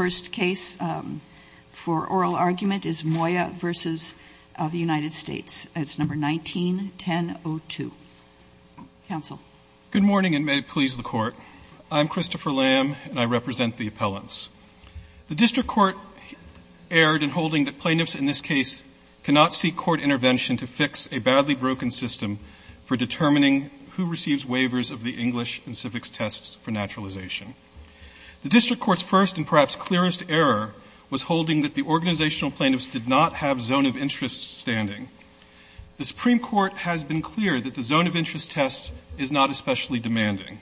The first case for oral argument is Moya v. United States 19-10-02. Counsel Good morning and may it please the Court. I am Christopher Lamb and I represent the appellants. The District Court erred in holding that plaintiffs in this case cannot seek court intervention to fix a badly broken system for determining who receives waivers of the English and civics tests for naturalization. The District Court's first and perhaps clearest error was holding that the organizational plaintiffs did not have zone of interest standing. The Supreme Court has been clear that the zone of interest test is not especially demanding.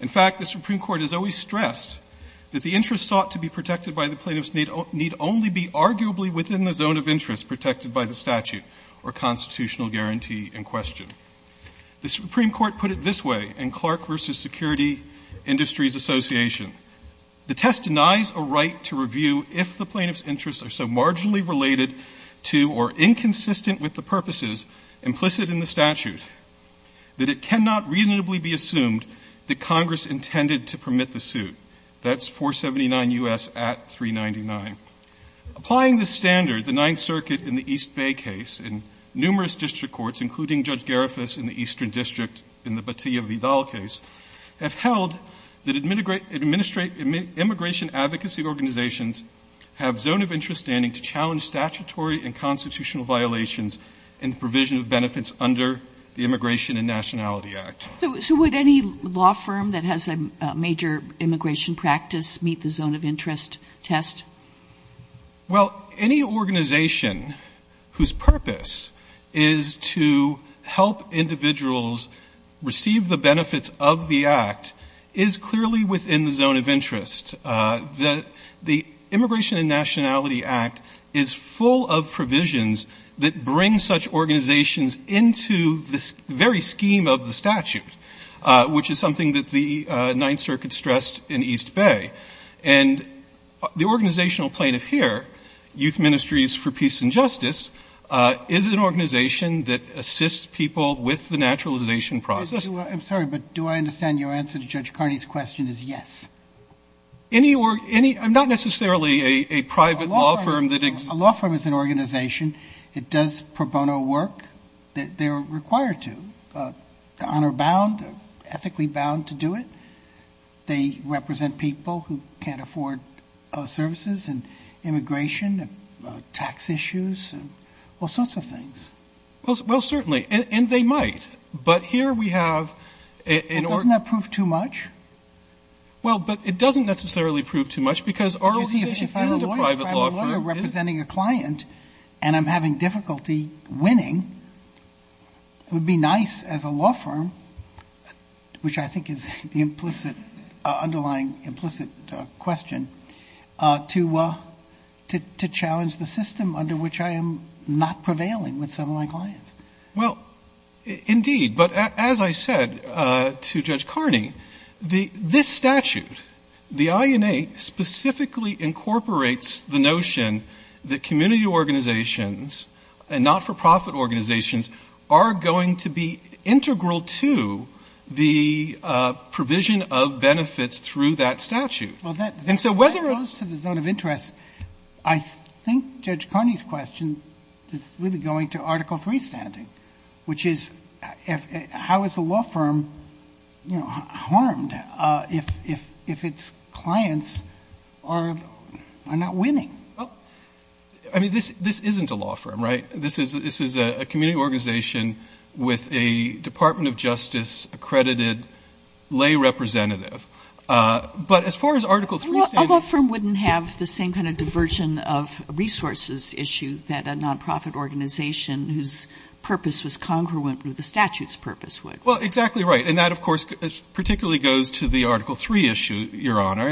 In fact, the Supreme Court has always stressed that the interest sought to be protected by the plaintiffs need only be arguably within the zone of interest protected by the statute or constitutional guarantee in question. The Supreme Court put it this way in Clark v. Security Industries Association. The test denies a right to review if the plaintiffs' interests are so marginally related to or inconsistent with the purposes implicit in the statute that it cannot reasonably be assumed that Congress intended to permit the suit. That's 479 U.S. at 399. Applying the standard, the Ninth Circuit in the East Bay case, and numerous District Courts, including Judge Garifas in the Eastern District in the Batilla-Vidal case, have held that immigration advocacy organizations have zone of interest standing to challenge statutory and constitutional violations in the provision of benefits under the Immigration and Nationality Act. So would any law firm that has a major immigration practice meet the zone of interest test? Well, any organization whose purpose is to help individuals receive the benefits of the Act is clearly within the zone of interest. The Immigration and Nationality Act is full of provisions that bring such organizations into the very scheme of the statute, which is something that the Ninth Circuit stressed in East Bay. And the organizational plaintiff here, Youth Ministries for Peace and Justice, is an organization that assists people with the naturalization process. I'm sorry, but do I understand your answer to Judge Carney's question is yes? Any or any, not necessarily a private law firm that exists. A law firm is an organization. It does pro bono work that they are required to, honor-bound, ethically bound to do it. They represent people who can't afford services and immigration, tax issues, all sorts of things. Well, certainly. And they might. But here we have an organization... Doesn't that prove too much? Well, but it doesn't necessarily prove too much because our organization is a private law firm. You see, if I'm a lawyer representing a client and I'm having difficulty winning, it would be nice as a law firm, which I think is the implicit, underlying implicit question, to challenge the system under which I am not prevailing with some of my clients. Well, indeed. But as I said to Judge Carney, this statute, the INA, specifically incorporates the notion that community organizations and not-for-profit organizations are going to be integral to the provision of benefits through that statute. Well, that goes to the zone of interest. I think Judge Carney's question is really going to Article III standing, which is how is a law firm harmed if its clients are not willing to win? Well, I mean, this isn't a law firm, right? This is a community organization with a Department of Justice-accredited lay representative. But as far as Article III standing... Well, a law firm wouldn't have the same kind of diversion of resources issue that a non-profit organization whose purpose was congruent with the statute's purpose would. Well, exactly right. And that, of course, particularly goes to the Article III issue, Your Honor.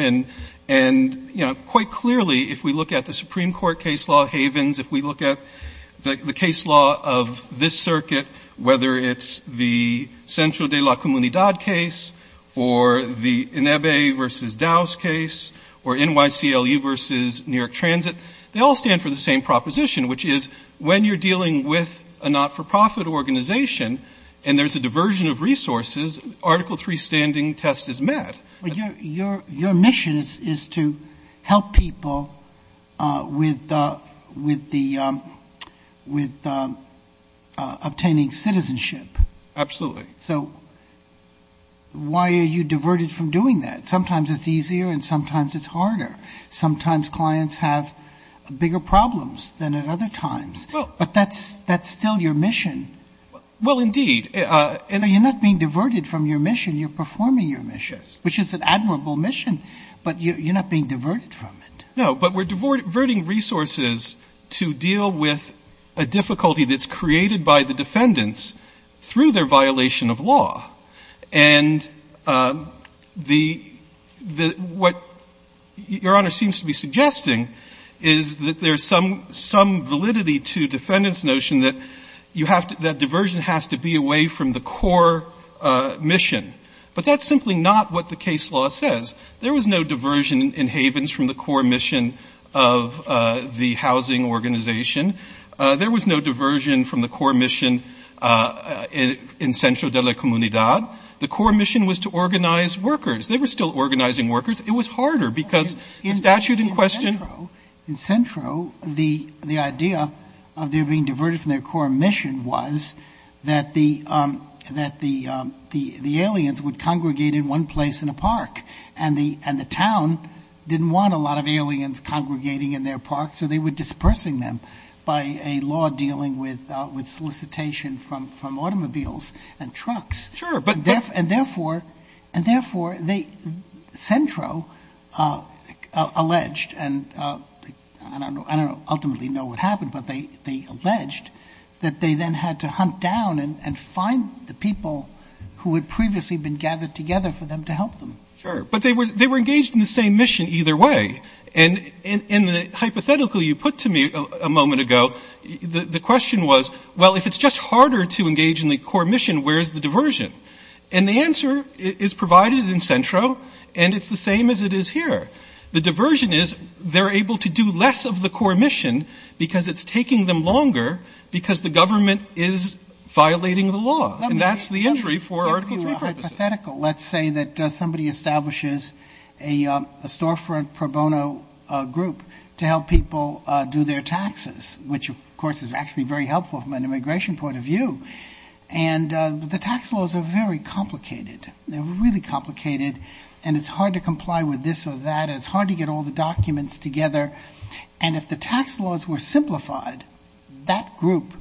And quite clearly, if we look at the Supreme Court case law havens, if we look at the case law of this circuit, whether it's the Central de la Comunidad case or the INEBE versus Dow's case or NYCLU versus New York Transit, they all stand for the same proposition, which is when you're dealing with a not-for-profit organization and there's a diversion of resources, Article III standing test is met. But your mission is to help people with obtaining citizenship. Absolutely. So why are you diverted from doing that? Sometimes it's easier and sometimes it's harder. Sometimes clients have bigger problems than at other times. But that's still your mission. Well, indeed. You're not being diverted from your mission. You're performing your mission, which is an admirable mission, but you're not being diverted from it. No. But we're diverting resources to deal with a difficulty that's created by the defendants through their violation of law. And the — what Your Honor seems to be suggesting is that there's some validity to defendants' notion that you have to — that diversion has to be away from the core mission. But that's simply not what the case law says. There was no diversion in Havens from the core mission of the housing organization. There was no diversion from the core mission in Centro de la Comunidad. The core mission was to organize workers. They were still organizing workers. It was harder because the statute in question — that the aliens would congregate in one place in a park. And the town didn't want a lot of aliens congregating in their park, so they were dispersing them by a law dealing with solicitation from automobiles and trucks. Sure, but — And therefore they — Centro alleged — and I don't ultimately know what happened, but they alleged that they then had to hunt down and find the people who had previously been gathered together for them to help them. Sure. But they were engaged in the same mission either way. And in the hypothetical you put to me a moment ago, the question was, well, if it's just harder to engage in the core mission, where's the diversion? And the answer is provided in Centro, and it's the same as it is here. The diversion is they're able to do less of the core mission because it's taking them longer because the government is violating the law. And that's the injury for Article 3 purposes. Hypothetical. Let's say that somebody establishes a storefront pro bono group to help people do their taxes, which of course is actually very helpful from an immigration point of view. And the tax laws are very complicated. They're really complicated, and it's hard to comply with this or that, and it's hard to get all the documents together. And if the tax laws were simplified, that group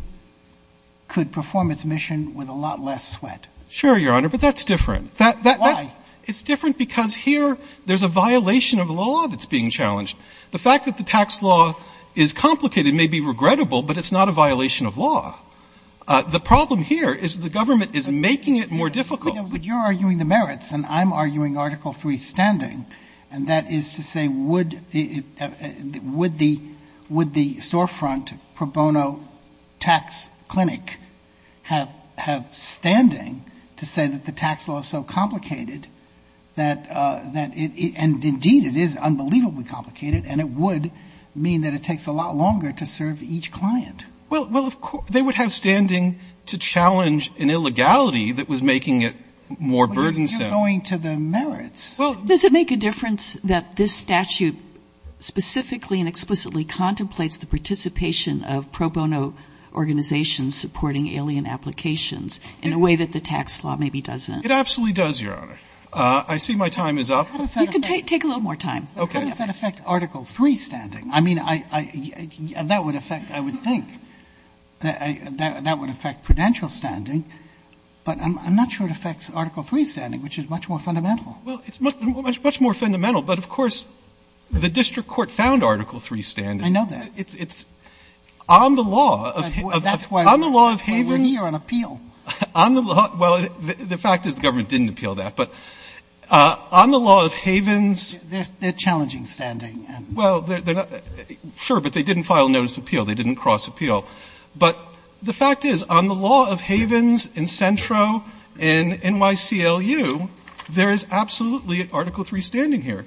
could perform its mission with a lot less sweat. Sure, Your Honor, but that's different. Why? It's different because here there's a violation of law that's being challenged. The fact that the tax law is complicated may be regrettable, but it's not a violation of law. The problem here is the government is making it more difficult. But you're arguing the merits, and I'm arguing Article 3 standing, and that is to say would the storefront pro bono tax clinic have standing to say that the tax law is so complicated that it, and indeed it is unbelievably complicated, and it would mean that it takes a lot longer to serve each client. Well, of course, they would have standing to challenge an illegality that was making it more burdensome. But you're going to the merits. Well, Does it make a difference that this statute specifically and explicitly contemplates the participation of pro bono organizations supporting alien applications in a way that the tax law maybe doesn't? It absolutely does, Your Honor. I see my time is up. You can take a little more time. Okay. How does that affect Article 3 standing? I mean, that would affect, I would think, that would affect prudential standing, but I'm not sure it affects Article 3 standing, which is much more fundamental. Well, it's much more fundamental, but of course, the district court found Article 3 standing. I know that. It's on the law of Havens. That's why we're here on appeal. Well, the fact is the government didn't appeal that. But on the law of Havens, they're challenging standing. Well, sure, but they didn't file notice of appeal. They didn't cross appeal. But the fact is, on the law of Havens in Centro, in NYCLU, there is absolutely Article 3 standing here.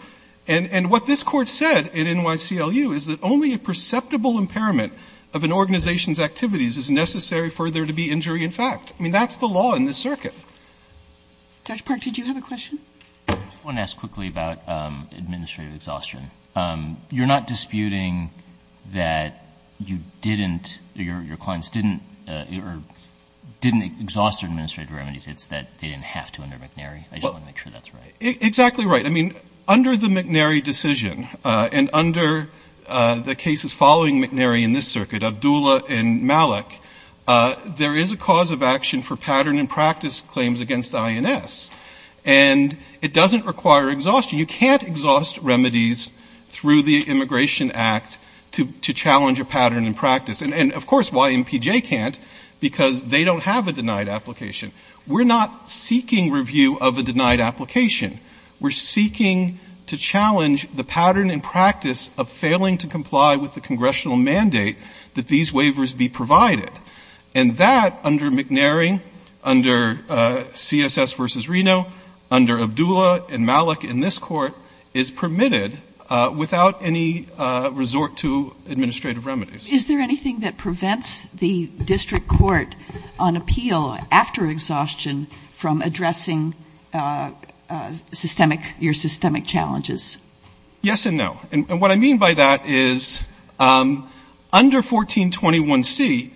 And what this Court said in NYCLU is that only a perceptible impairment of an organization's activities is necessary for there to be injury in fact. I mean, that's the law in this circuit. Judge Park, did you have a question? I just want to ask quickly about administrative exhaustion. You're not disputing that you didn't, your clients didn't exhaust their administrative remedies, it's that they didn't have to under McNary? I just want to make sure that's right. Exactly right. I mean, under the McNary decision, and under the cases following McNary in this circuit, Abdullah and Malik, there is a cause of action for pattern and practice claims against INS. And it doesn't require exhaustion. You can't exhaust remedies through the Immigration Act to challenge a pattern and practice. And, of course, why MPJ can't, because they don't have a denied application. We're not seeking review of a denied application. We're seeking to challenge the pattern and practice of failing to comply with the congressional mandate that these waivers be provided. And that, under McNary, under CSS versus Reno, under Abdullah and Malik in this court, is permitted without any resort to administrative remedies. Is there anything that prevents the district court on appeal after exhaustion from addressing systemic, your systemic challenges? Yes and no. And what I mean by that is, under 1421C,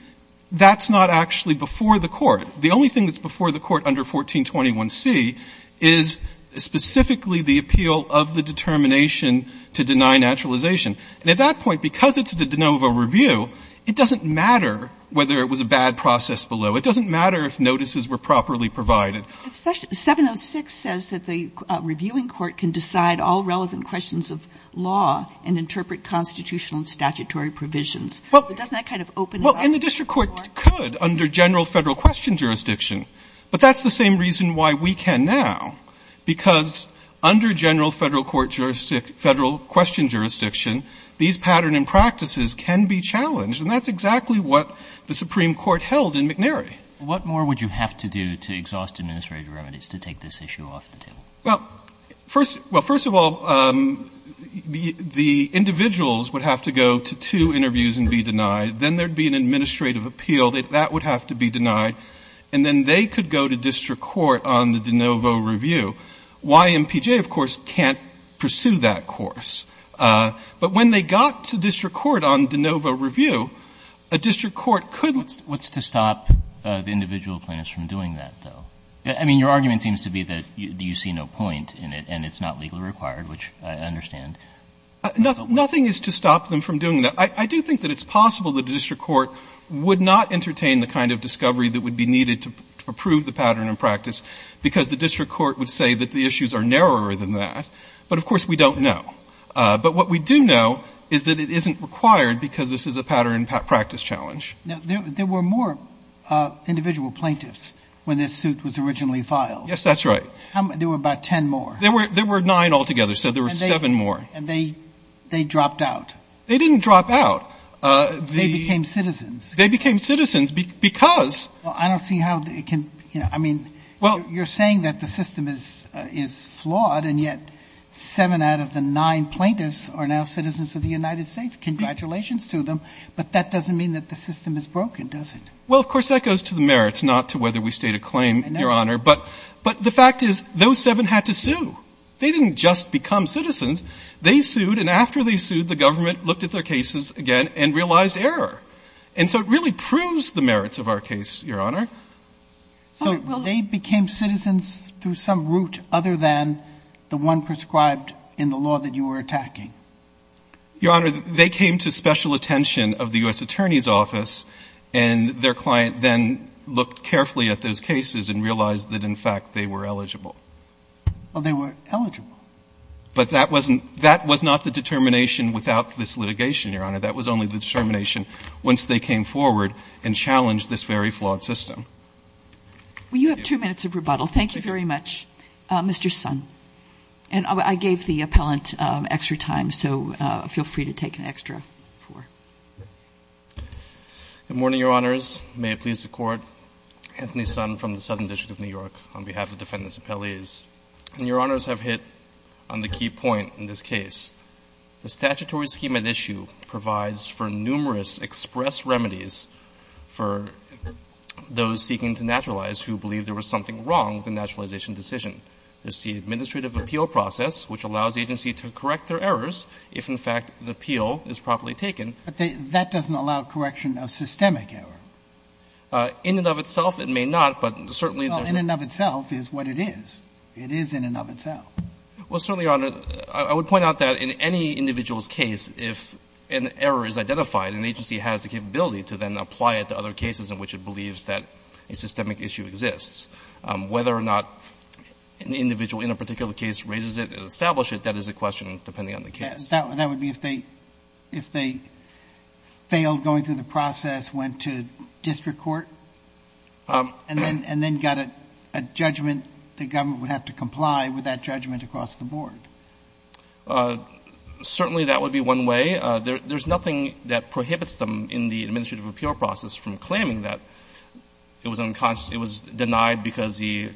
that's not actually before the court. The only thing that's before the court under 1421C is specifically the appeal of the determination to deny naturalization. And at that point, because it's a de novo review, it doesn't matter whether it was a bad process below. It doesn't matter if notices were properly provided. But 706 says that the reviewing court can decide all relevant questions of law and interpret constitutional and statutory provisions. But doesn't that kind of open it up? Well, and the district court could under general federal question jurisdiction. But that's the same reason why we can now. Because under general federal court jurisdiction, federal question jurisdiction, these pattern and practices can be challenged. And that's exactly what the Supreme Court held in McNary. What more would you have to do to exhaust administrative remedies to take this issue off the table? Well, first of all, the individuals would have to go to two interviews and be denied. Then there'd be an administrative appeal. That would have to be denied. And then they could go to district court on the de novo review. YMPJ, of course, can't pursue that course. But when they got to district court on de novo review, a district court could. What's to stop the individual plaintiffs from doing that, though? I mean, your argument seems to be that you see no point in it and it's not legally required, which I understand. Nothing is to stop them from doing that. I do think that it's possible that a district court would not entertain the kind of discovery that would be needed to approve the pattern and practice because the district court would say that the issues are narrower than that. But of course, we don't know. But what we do know is that it isn't required because this is a pattern and practice challenge. There were more individual plaintiffs when this suit was originally filed. Yes, that's right. There were about 10 more. There were there were nine altogether. So there were seven more. And they they dropped out. They didn't drop out. They became citizens. They became citizens because I don't see how it can. I mean, well, you're saying that the system is is flawed. And yet seven out of the nine plaintiffs are now citizens of the United States. Congratulations to them. But that doesn't mean that the system is broken, does it? Well, of course, that goes to the merits, not to whether we state a claim, Your Honor. But but the fact is, those seven had to sue. They didn't just become citizens. They sued. And after they sued, the government looked at their cases again and realized error. And so it really proves the merits of our case, Your Honor. So they became citizens through some route other than the one prescribed in the law that you were attacking. Your Honor, they came to special attention of the U.S. Attorney's Office and their client then looked carefully at those cases and realized that, in fact, they were eligible. Well, they were eligible. But that wasn't that was not the determination without this litigation, Your Honor. That was only the determination once they came forward and challenged this very flawed system. Well, you have two minutes of rebuttal. Thank you very much, Mr. Son. And I gave the appellant extra time. So feel free to take an extra four. Good morning, Your Honors. May it please the Court. Anthony Son from the Southern District of New York on behalf of defendants appellees. And Your Honors have hit on the key point in this case. The statutory scheme at issue provides for numerous express remedies for those seeking to naturalize who believe there was something wrong with the naturalization decision. There's the administrative appeal process, which allows the agency to correct their errors if, in fact, the appeal is properly taken. But that doesn't allow correction of systemic error. In and of itself, it may not, but certainly there's not. Well, in and of itself is what it is. It is in and of itself. Well, certainly, Your Honor, I would point out that in any individual's case, if an error is identified, an agency has the capability to then apply it to other cases in which it believes that a systemic issue exists. Whether or not an individual in a particular case raises it and establishes it, that is a question, depending on the case. That would be if they failed going through the process, went to district court, and then got a judgment the government would have to comply with that judgment across the board. Certainly that would be one way. There's nothing that prohibits them in the administrative appeal process from claiming that it was unconscious, it was denied because the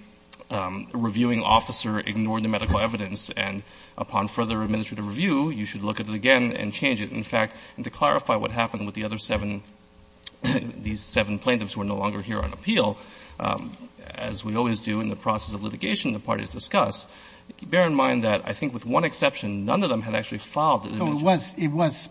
reviewing officer ignored the medical evidence, and upon further administrative review, you should look at it again and change it. In fact, to clarify what happened with the other seven, these seven plaintiffs who are no longer here on appeal, as we always do in the process of litigation the parties discuss, bear in mind that I think with one exception, none of them had actually filed the administrative appeal. So it was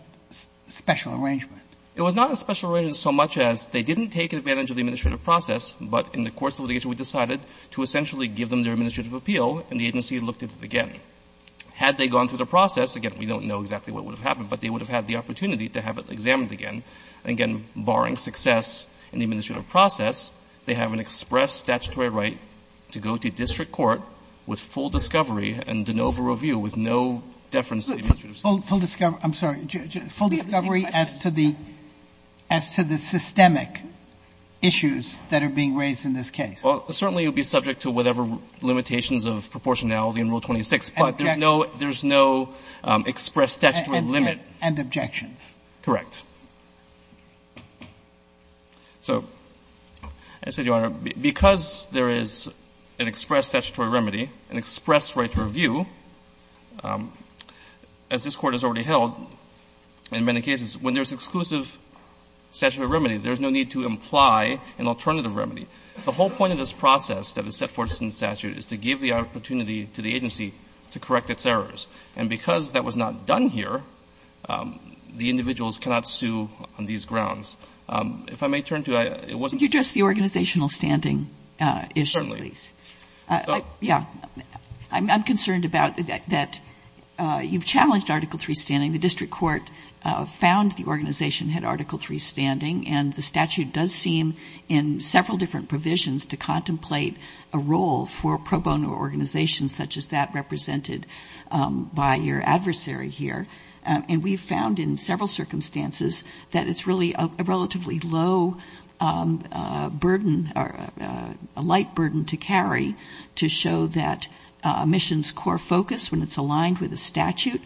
special arrangement. It was not a special arrangement so much as they didn't take advantage of the administrative process, but in the course of litigation we decided to essentially give them their administrative appeal, and the agency looked at it again. Had they gone through the process, again, we don't know exactly what would have happened, but they would have had the opportunity to have it examined again. Again, barring success in the administrative process, they have an express statutory right to go to district court with full discovery and de novo review with no deference to the administrative statute. Sotomayor, I'm sorry, full discovery as to the systemic issues that are being raised in this case. Well, certainly it would be subject to whatever limitations of proportionality in Rule 26, but there's no express statutory limit. And objections. Correct. So, I said, Your Honor, because there is an express statutory remedy, an express right to review, as this Court has already held in many cases, when there's exclusive statutory remedy, there's no need to imply an alternative remedy. The whole point of this process that is set forth in the statute is to give the opportunity to the agency to correct its errors. And because that was not done here, the individuals cannot sue on these grounds. If I may turn to you, it wasn't the case. Could you address the organizational standing issue, please? Certainly. Yeah. I'm concerned about that you've challenged Article III standing. The district court found the organization had Article III standing, and the statute does seem in several different provisions to contemplate a role for pro bono organizations such as that represented by your adversary here. And we've found in several circumstances that it's really a relatively low burden, a light burden to carry to show that a mission's core focus, when it's aligned with a statute,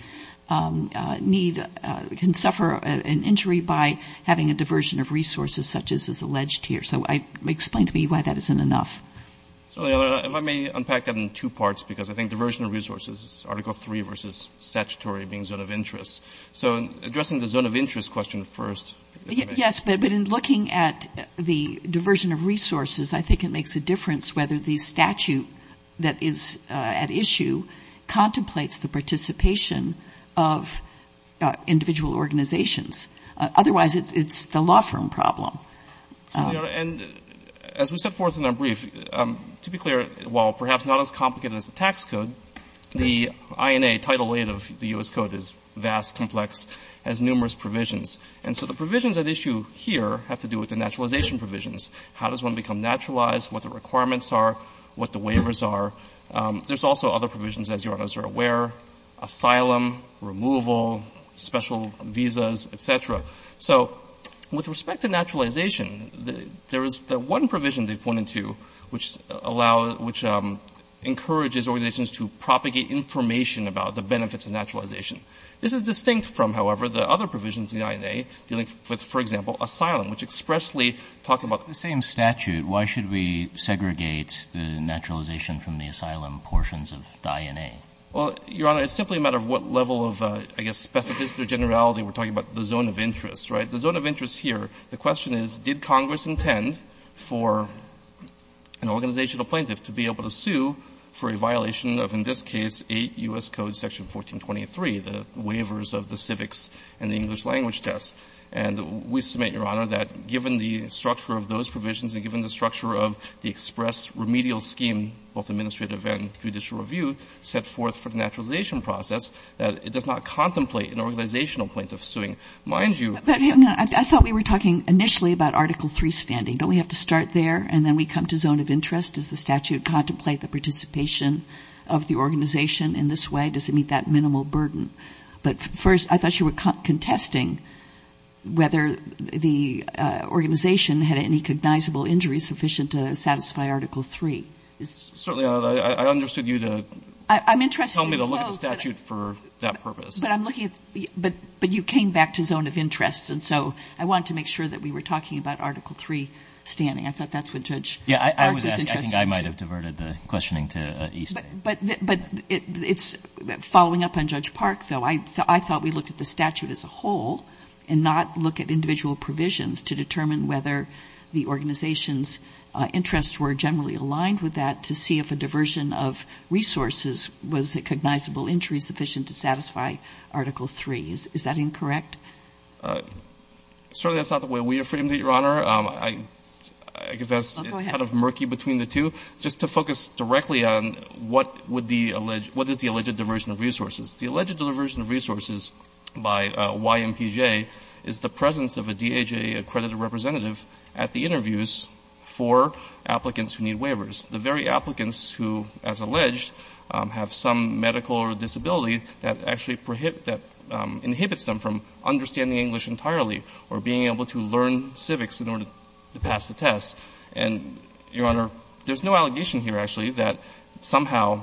can suffer an injury by having a diversion of resources such as is alleged here. So explain to me why that isn't enough. So, Your Honor, if I may unpack that in two parts, because I think diversion of resources is Article III versus statutory being zone of interest. So addressing the zone of interest question first. Yes, but in looking at the diversion of resources, I think it makes a difference whether the statute that is at issue contemplates the participation of individual organizations. Otherwise, it's the law firm problem. So, Your Honor, and as we set forth in our brief, to be clear, while perhaps not as complicated as the tax code, the INA Title VIII of the U.S. Code is vast, complex, has numerous provisions. And so the provisions at issue here have to do with the naturalization provisions. How does one become naturalized? What the requirements are? What the waivers are? There's also other provisions, as Your Honors are aware, asylum, removal, special visas, et cetera. So with respect to naturalization, there is the one provision they've pointed to which allow, which encourages organizations to propagate information about the benefits of naturalization. This is distinct from, however, the other provisions in the INA dealing with, for example, asylum, which expressly talk about the same statute. Why should we segregate the naturalization from the asylum portions of the INA? Well, Your Honor, it's simply a matter of what level of, I guess, specificity or generality we're talking about the zone of interest, right? The zone of interest here, the question is, did Congress intend for an organizational plaintiff to be able to sue for a violation of, in this case, 8 U.S. Code section 1423, the waivers of the civics and the English language test? And we submit, Your Honor, that given the structure of those provisions and given the structure of the express remedial scheme, both administrative and judicial review, set forth for the naturalization process, that it does not contemplate an organizational plaintiff suing. Mind you — But, Your Honor, I thought we were talking initially about Article III standing. Don't we have to start there and then we come to zone of interest? Does the statute contemplate the participation of the organization in this way? Why does it meet that minimal burden? But, first, I thought you were contesting whether the organization had any cognizable injuries sufficient to satisfy Article III. Certainly, Your Honor. I understood you to tell me to look at the statute for that purpose. But I'm looking at — but you came back to zone of interest, and so I wanted to make sure that we were talking about Article III standing. I thought that's what Judge — Yeah. I was asking. I think I might have diverted the questioning to Eastman. But it's — following up on Judge Park, though, I thought we looked at the statute as a whole and not look at individual provisions to determine whether the organization's interests were generally aligned with that to see if a diversion of resources was a cognizable injury sufficient to satisfy Article III. Is that incorrect? Certainly, that's not the way we have framed it, Your Honor. I confess — Oh, go ahead. I think it's kind of murky between the two. Just to focus directly on what would be — what is the alleged diversion of resources. The alleged diversion of resources by YMPJ is the presence of a DHA accredited representative at the interviews for applicants who need waivers. The very applicants who, as alleged, have some medical or disability that actually prohibits — that inhibits them from understanding English entirely or being able to learn civics in order to pass the test. And, Your Honor, there's no allegation here, actually, that somehow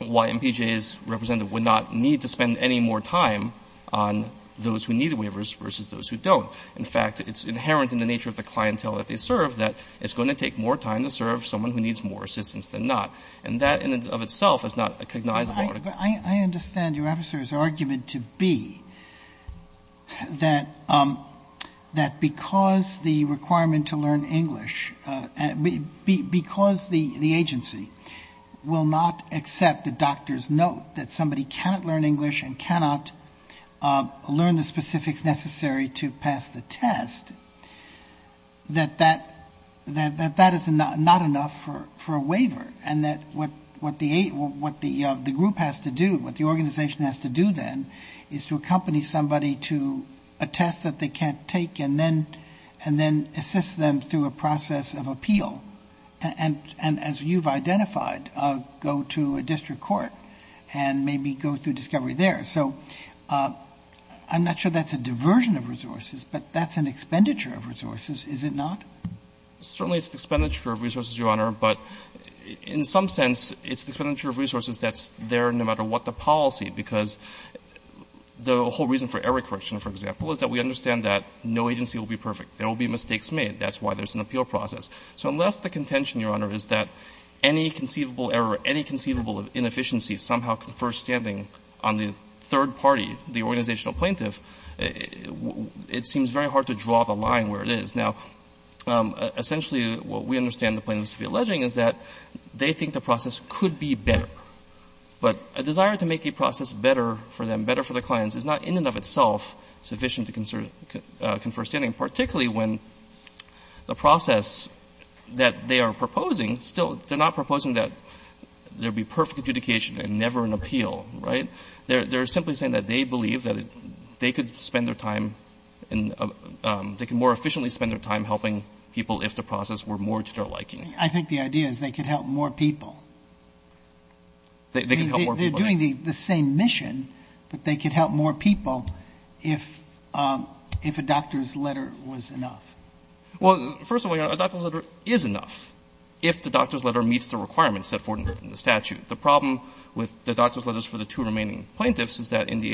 YMPJ's representative would not need to spend any more time on those who need waivers versus those who don't. In fact, it's inherent in the nature of the clientele that they serve that it's going to take more time to serve someone who needs more assistance than not. And that, in and of itself, is not a cognizable — I understand your officer's argument to be that because the requirement to learn English — because the agency will not accept a doctor's note that somebody cannot learn English and cannot learn the specifics necessary to pass the test, that that is not enough for a waiver. And that what the group has to do, what the organization has to do, then, is to accompany somebody to a test that they can't take and then assist them through a process of appeal and, as you've identified, go to a district court and maybe go through discovery there. So I'm not sure that's a diversion of resources, but that's an expenditure of resources, is it not? Certainly, it's an expenditure of resources, Your Honor, but in some sense, it's an expenditure of resources that's there no matter what the policy, because the whole reason for error correction, for example, is that we understand that no agency will be perfect. There will be mistakes made. That's why there's an appeal process. So unless the contention, Your Honor, is that any conceivable error, any conceivable inefficiency somehow confers standing on the third party, the organizational plaintiff, it seems very hard to draw the line where it is. Now, essentially, what we understand the plaintiffs to be alleging is that they think the process could be better, but a desire to make a process better for them, better for the clients, is not in and of itself sufficient to confer standing, particularly when the process that they are proposing, still, they're not proposing that there be perfect adjudication and never an appeal, right? They're simply saying that they believe that they could spend their time and they could more efficiently spend their time helping people if the process were more to their liking. Sotomayor, I think the idea is they could help more people. They're doing the same mission, but they could help more people if a doctor's letter was enough. Well, first of all, Your Honor, a doctor's letter is enough if the doctor's letter meets the requirements set forth in the statute. The problem with the doctor's letters for the two remaining plaintiffs is that in the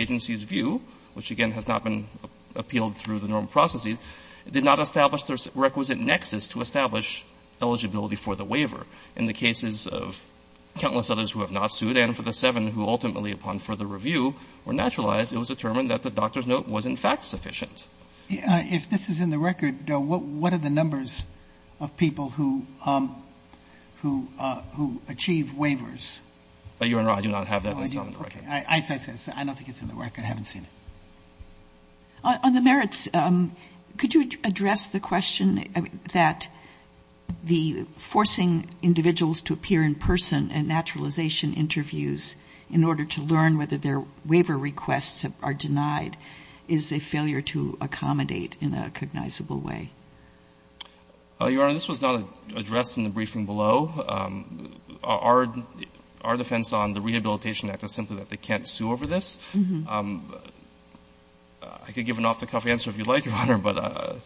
did not establish the requisite nexus to establish eligibility for the waiver. In the cases of countless others who have not sued and for the seven who ultimately, upon further review, were naturalized, it was determined that the doctor's note was, in fact, sufficient. If this is in the record, what are the numbers of people who achieve waivers? Your Honor, I do not have that list on the record. I don't think it's in the record. I haven't seen it. On the merits, could you address the question that the forcing individuals to appear in person at naturalization interviews in order to learn whether their waiver requests are denied is a failure to accommodate in a cognizable way? Your Honor, this was not addressed in the briefing below. Our defense on the Rehabilitation Act is simply that they can't sue over this. I could give an off-the-cuff answer if you'd like, Your Honor, but...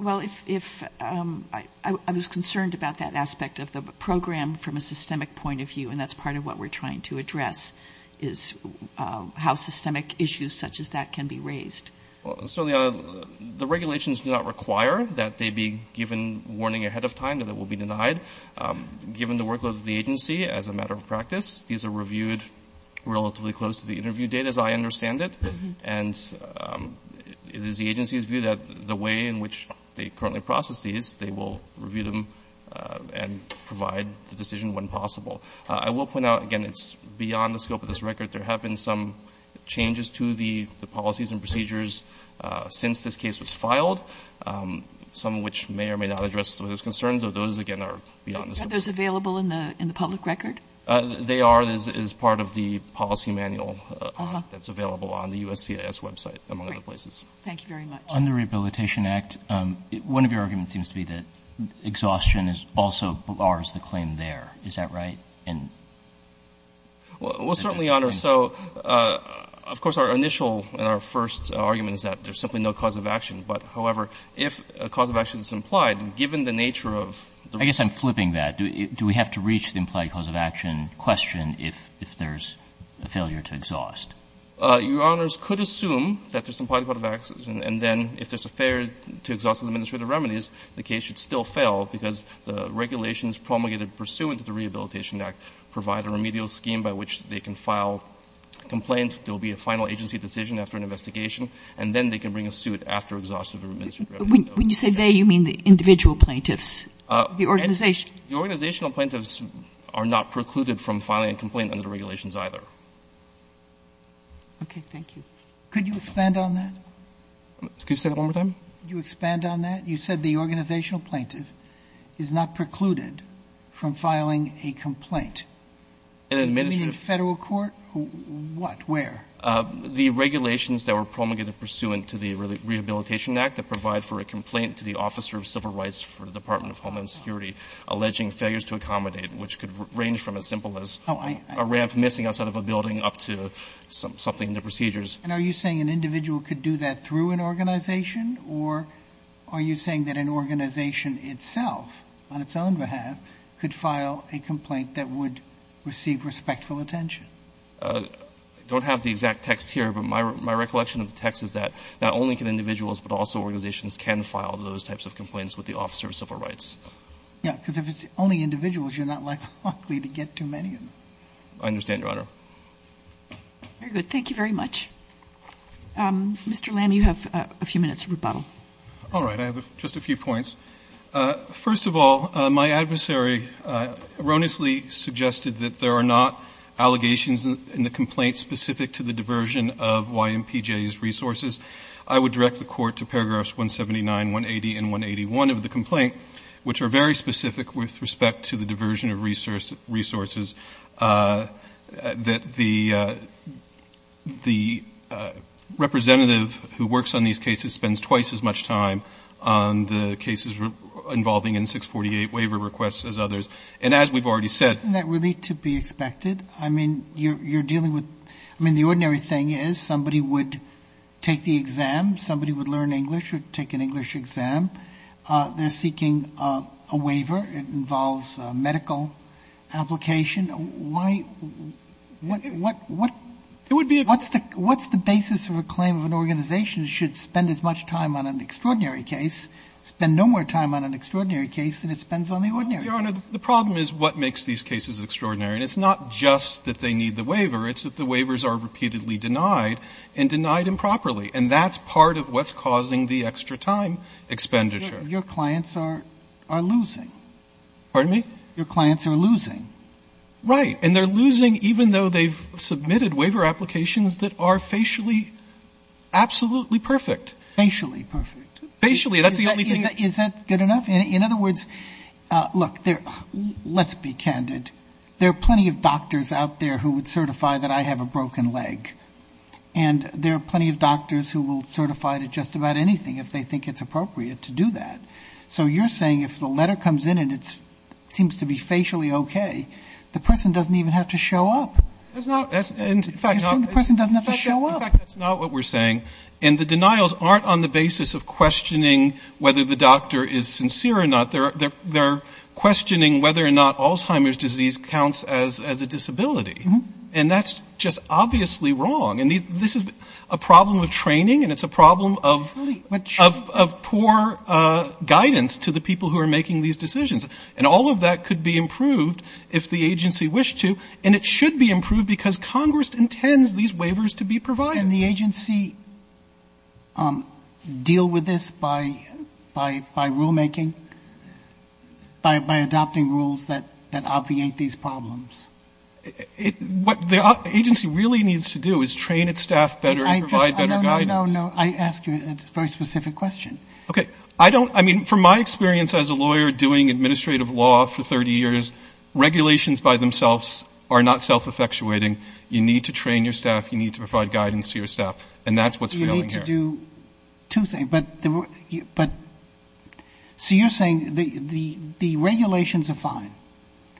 Well, if I was concerned about that aspect of the program from a systemic point of view, and that's part of what we're trying to address, is how systemic issues such as that can be raised. Certainly, the regulations do not require that they be given warning ahead of time that it will be denied. Given the workload of the agency, as a matter of practice, these are reviewed relatively close to the interview date, as I understand it. And it is the agency's view that the way in which they currently process these, they will review them and provide the decision when possible. I will point out, again, it's beyond the scope of this record. There have been some changes to the policies and procedures since this case was filed, some of which may or may not address those concerns. But those, again, are beyond the scope of this record. Are those available in the public record? They are. That is part of the policy manual that's available on the USCIS website, among other places. Thank you very much. On the Rehabilitation Act, one of your arguments seems to be that exhaustion is also ours to claim there. Is that right? Well, certainly, Your Honor. So, of course, our initial and our first argument is that there's simply no cause of action. But, however, if a cause of action is implied, given the nature of... I guess I'm flipping that. Do we have to reach the implied cause of action question if there's a failure to exhaust? Your Honors, could assume that there's implied cause of action, and then if there's a failure to exhaust administrative remedies, the case should still fail because the regulations promulgated pursuant to the Rehabilitation Act provide a remedial scheme by which they can file a complaint. There will be a final agency decision after an investigation, and then they can bring a suit after exhaustion of the administrative remedies. When you say they, you mean the individual plaintiffs, the organization? The organizational plaintiffs are not precluded from filing a complaint under the regulations either. Okay. Thank you. Could you expand on that? Could you say that one more time? Could you expand on that? You said the organizational plaintiff is not precluded from filing a complaint. An administrative... You mean in Federal court? What? Where? The regulations that were promulgated pursuant to the Rehabilitation Act that provide for a complaint to the officer of civil rights for the Department of Homeland Security alleging failures to accommodate, which could range from as simple as a ramp missing outside of a building up to something in the procedures. And are you saying an individual could do that through an organization, or are you saying that an organization itself on its own behalf could file a complaint that would receive respectful attention? I don't have the exact text here, but my recollection of the text is that not only can individuals but also organizations can file those types of complaints with the officer of civil rights. Yeah, because if it's only individuals, you're not likely to get too many of them. I understand, Your Honor. Very good. Thank you very much. Mr. Lam, you have a few minutes of rebuttal. All right. I have just a few points. First of all, my adversary erroneously suggested that there are not allegations in the complaint specific to the diversion of YMPJ's resources. I would direct the Court to paragraphs 179, 180, and 181 of the complaint. Which are very specific with respect to the diversion of resources. That the representative who works on these cases spends twice as much time on the cases involving N-648 waiver requests as others. And as we've already said. Isn't that really to be expected? I mean, you're dealing with, I mean, the ordinary thing is somebody would take the exam. Somebody would learn English or take an English exam. They're seeking a waiver. It involves medical application. Why? What's the basis of a claim of an organization should spend as much time on an extraordinary case, spend no more time on an extraordinary case than it spends on the ordinary case? Your Honor, the problem is what makes these cases extraordinary. And it's not just that they need the waiver. It's that the waivers are repeatedly denied and denied improperly. And that's part of what's causing the extra time expenditure. Your clients are losing. Pardon me? Your clients are losing. Right. And they're losing even though they've submitted waiver applications that are facially absolutely perfect. Facially perfect. Facially. That's the only thing. Is that good enough? In other words, look, let's be candid. There are plenty of doctors out there who would certify that I have a broken leg. And there are plenty of doctors who will certify to just about anything if they think it's appropriate to do that. So you're saying if the letter comes in and it seems to be facially okay, the person doesn't even have to show up. That's not, in fact, the person doesn't have to show up. In fact, that's not what we're saying. And the denials aren't on the basis of questioning whether the doctor is sincere or not. They're questioning whether or not Alzheimer's disease counts as a disability. And that's just obviously wrong. And this is a problem of training and it's a problem of poor guidance to the people who are making these decisions. And all of that could be improved if the agency wished to. And it should be improved because Congress intends these waivers to be provided. Can the agency deal with this by rulemaking, by adopting rules that obviate these problems? What the agency really needs to do is train its staff better and provide better guidance. No, no, no, no, I ask you a very specific question. Okay. I don't, I mean, from my experience as a lawyer doing administrative law for 30 years, regulations by themselves are not self-effectuating. You need to train your staff. You need to provide guidance to your staff. And that's what's failing here. You need to do two things. But so you're saying the regulations are fine.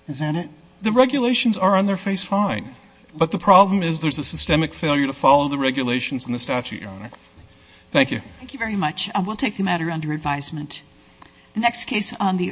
Is that it? The regulations are on their face fine. But the problem is there's a systemic failure to follow the regulations in the statute, Your Honor. Thank you. Thank you very much. We'll take the matter under advisement. The next case on the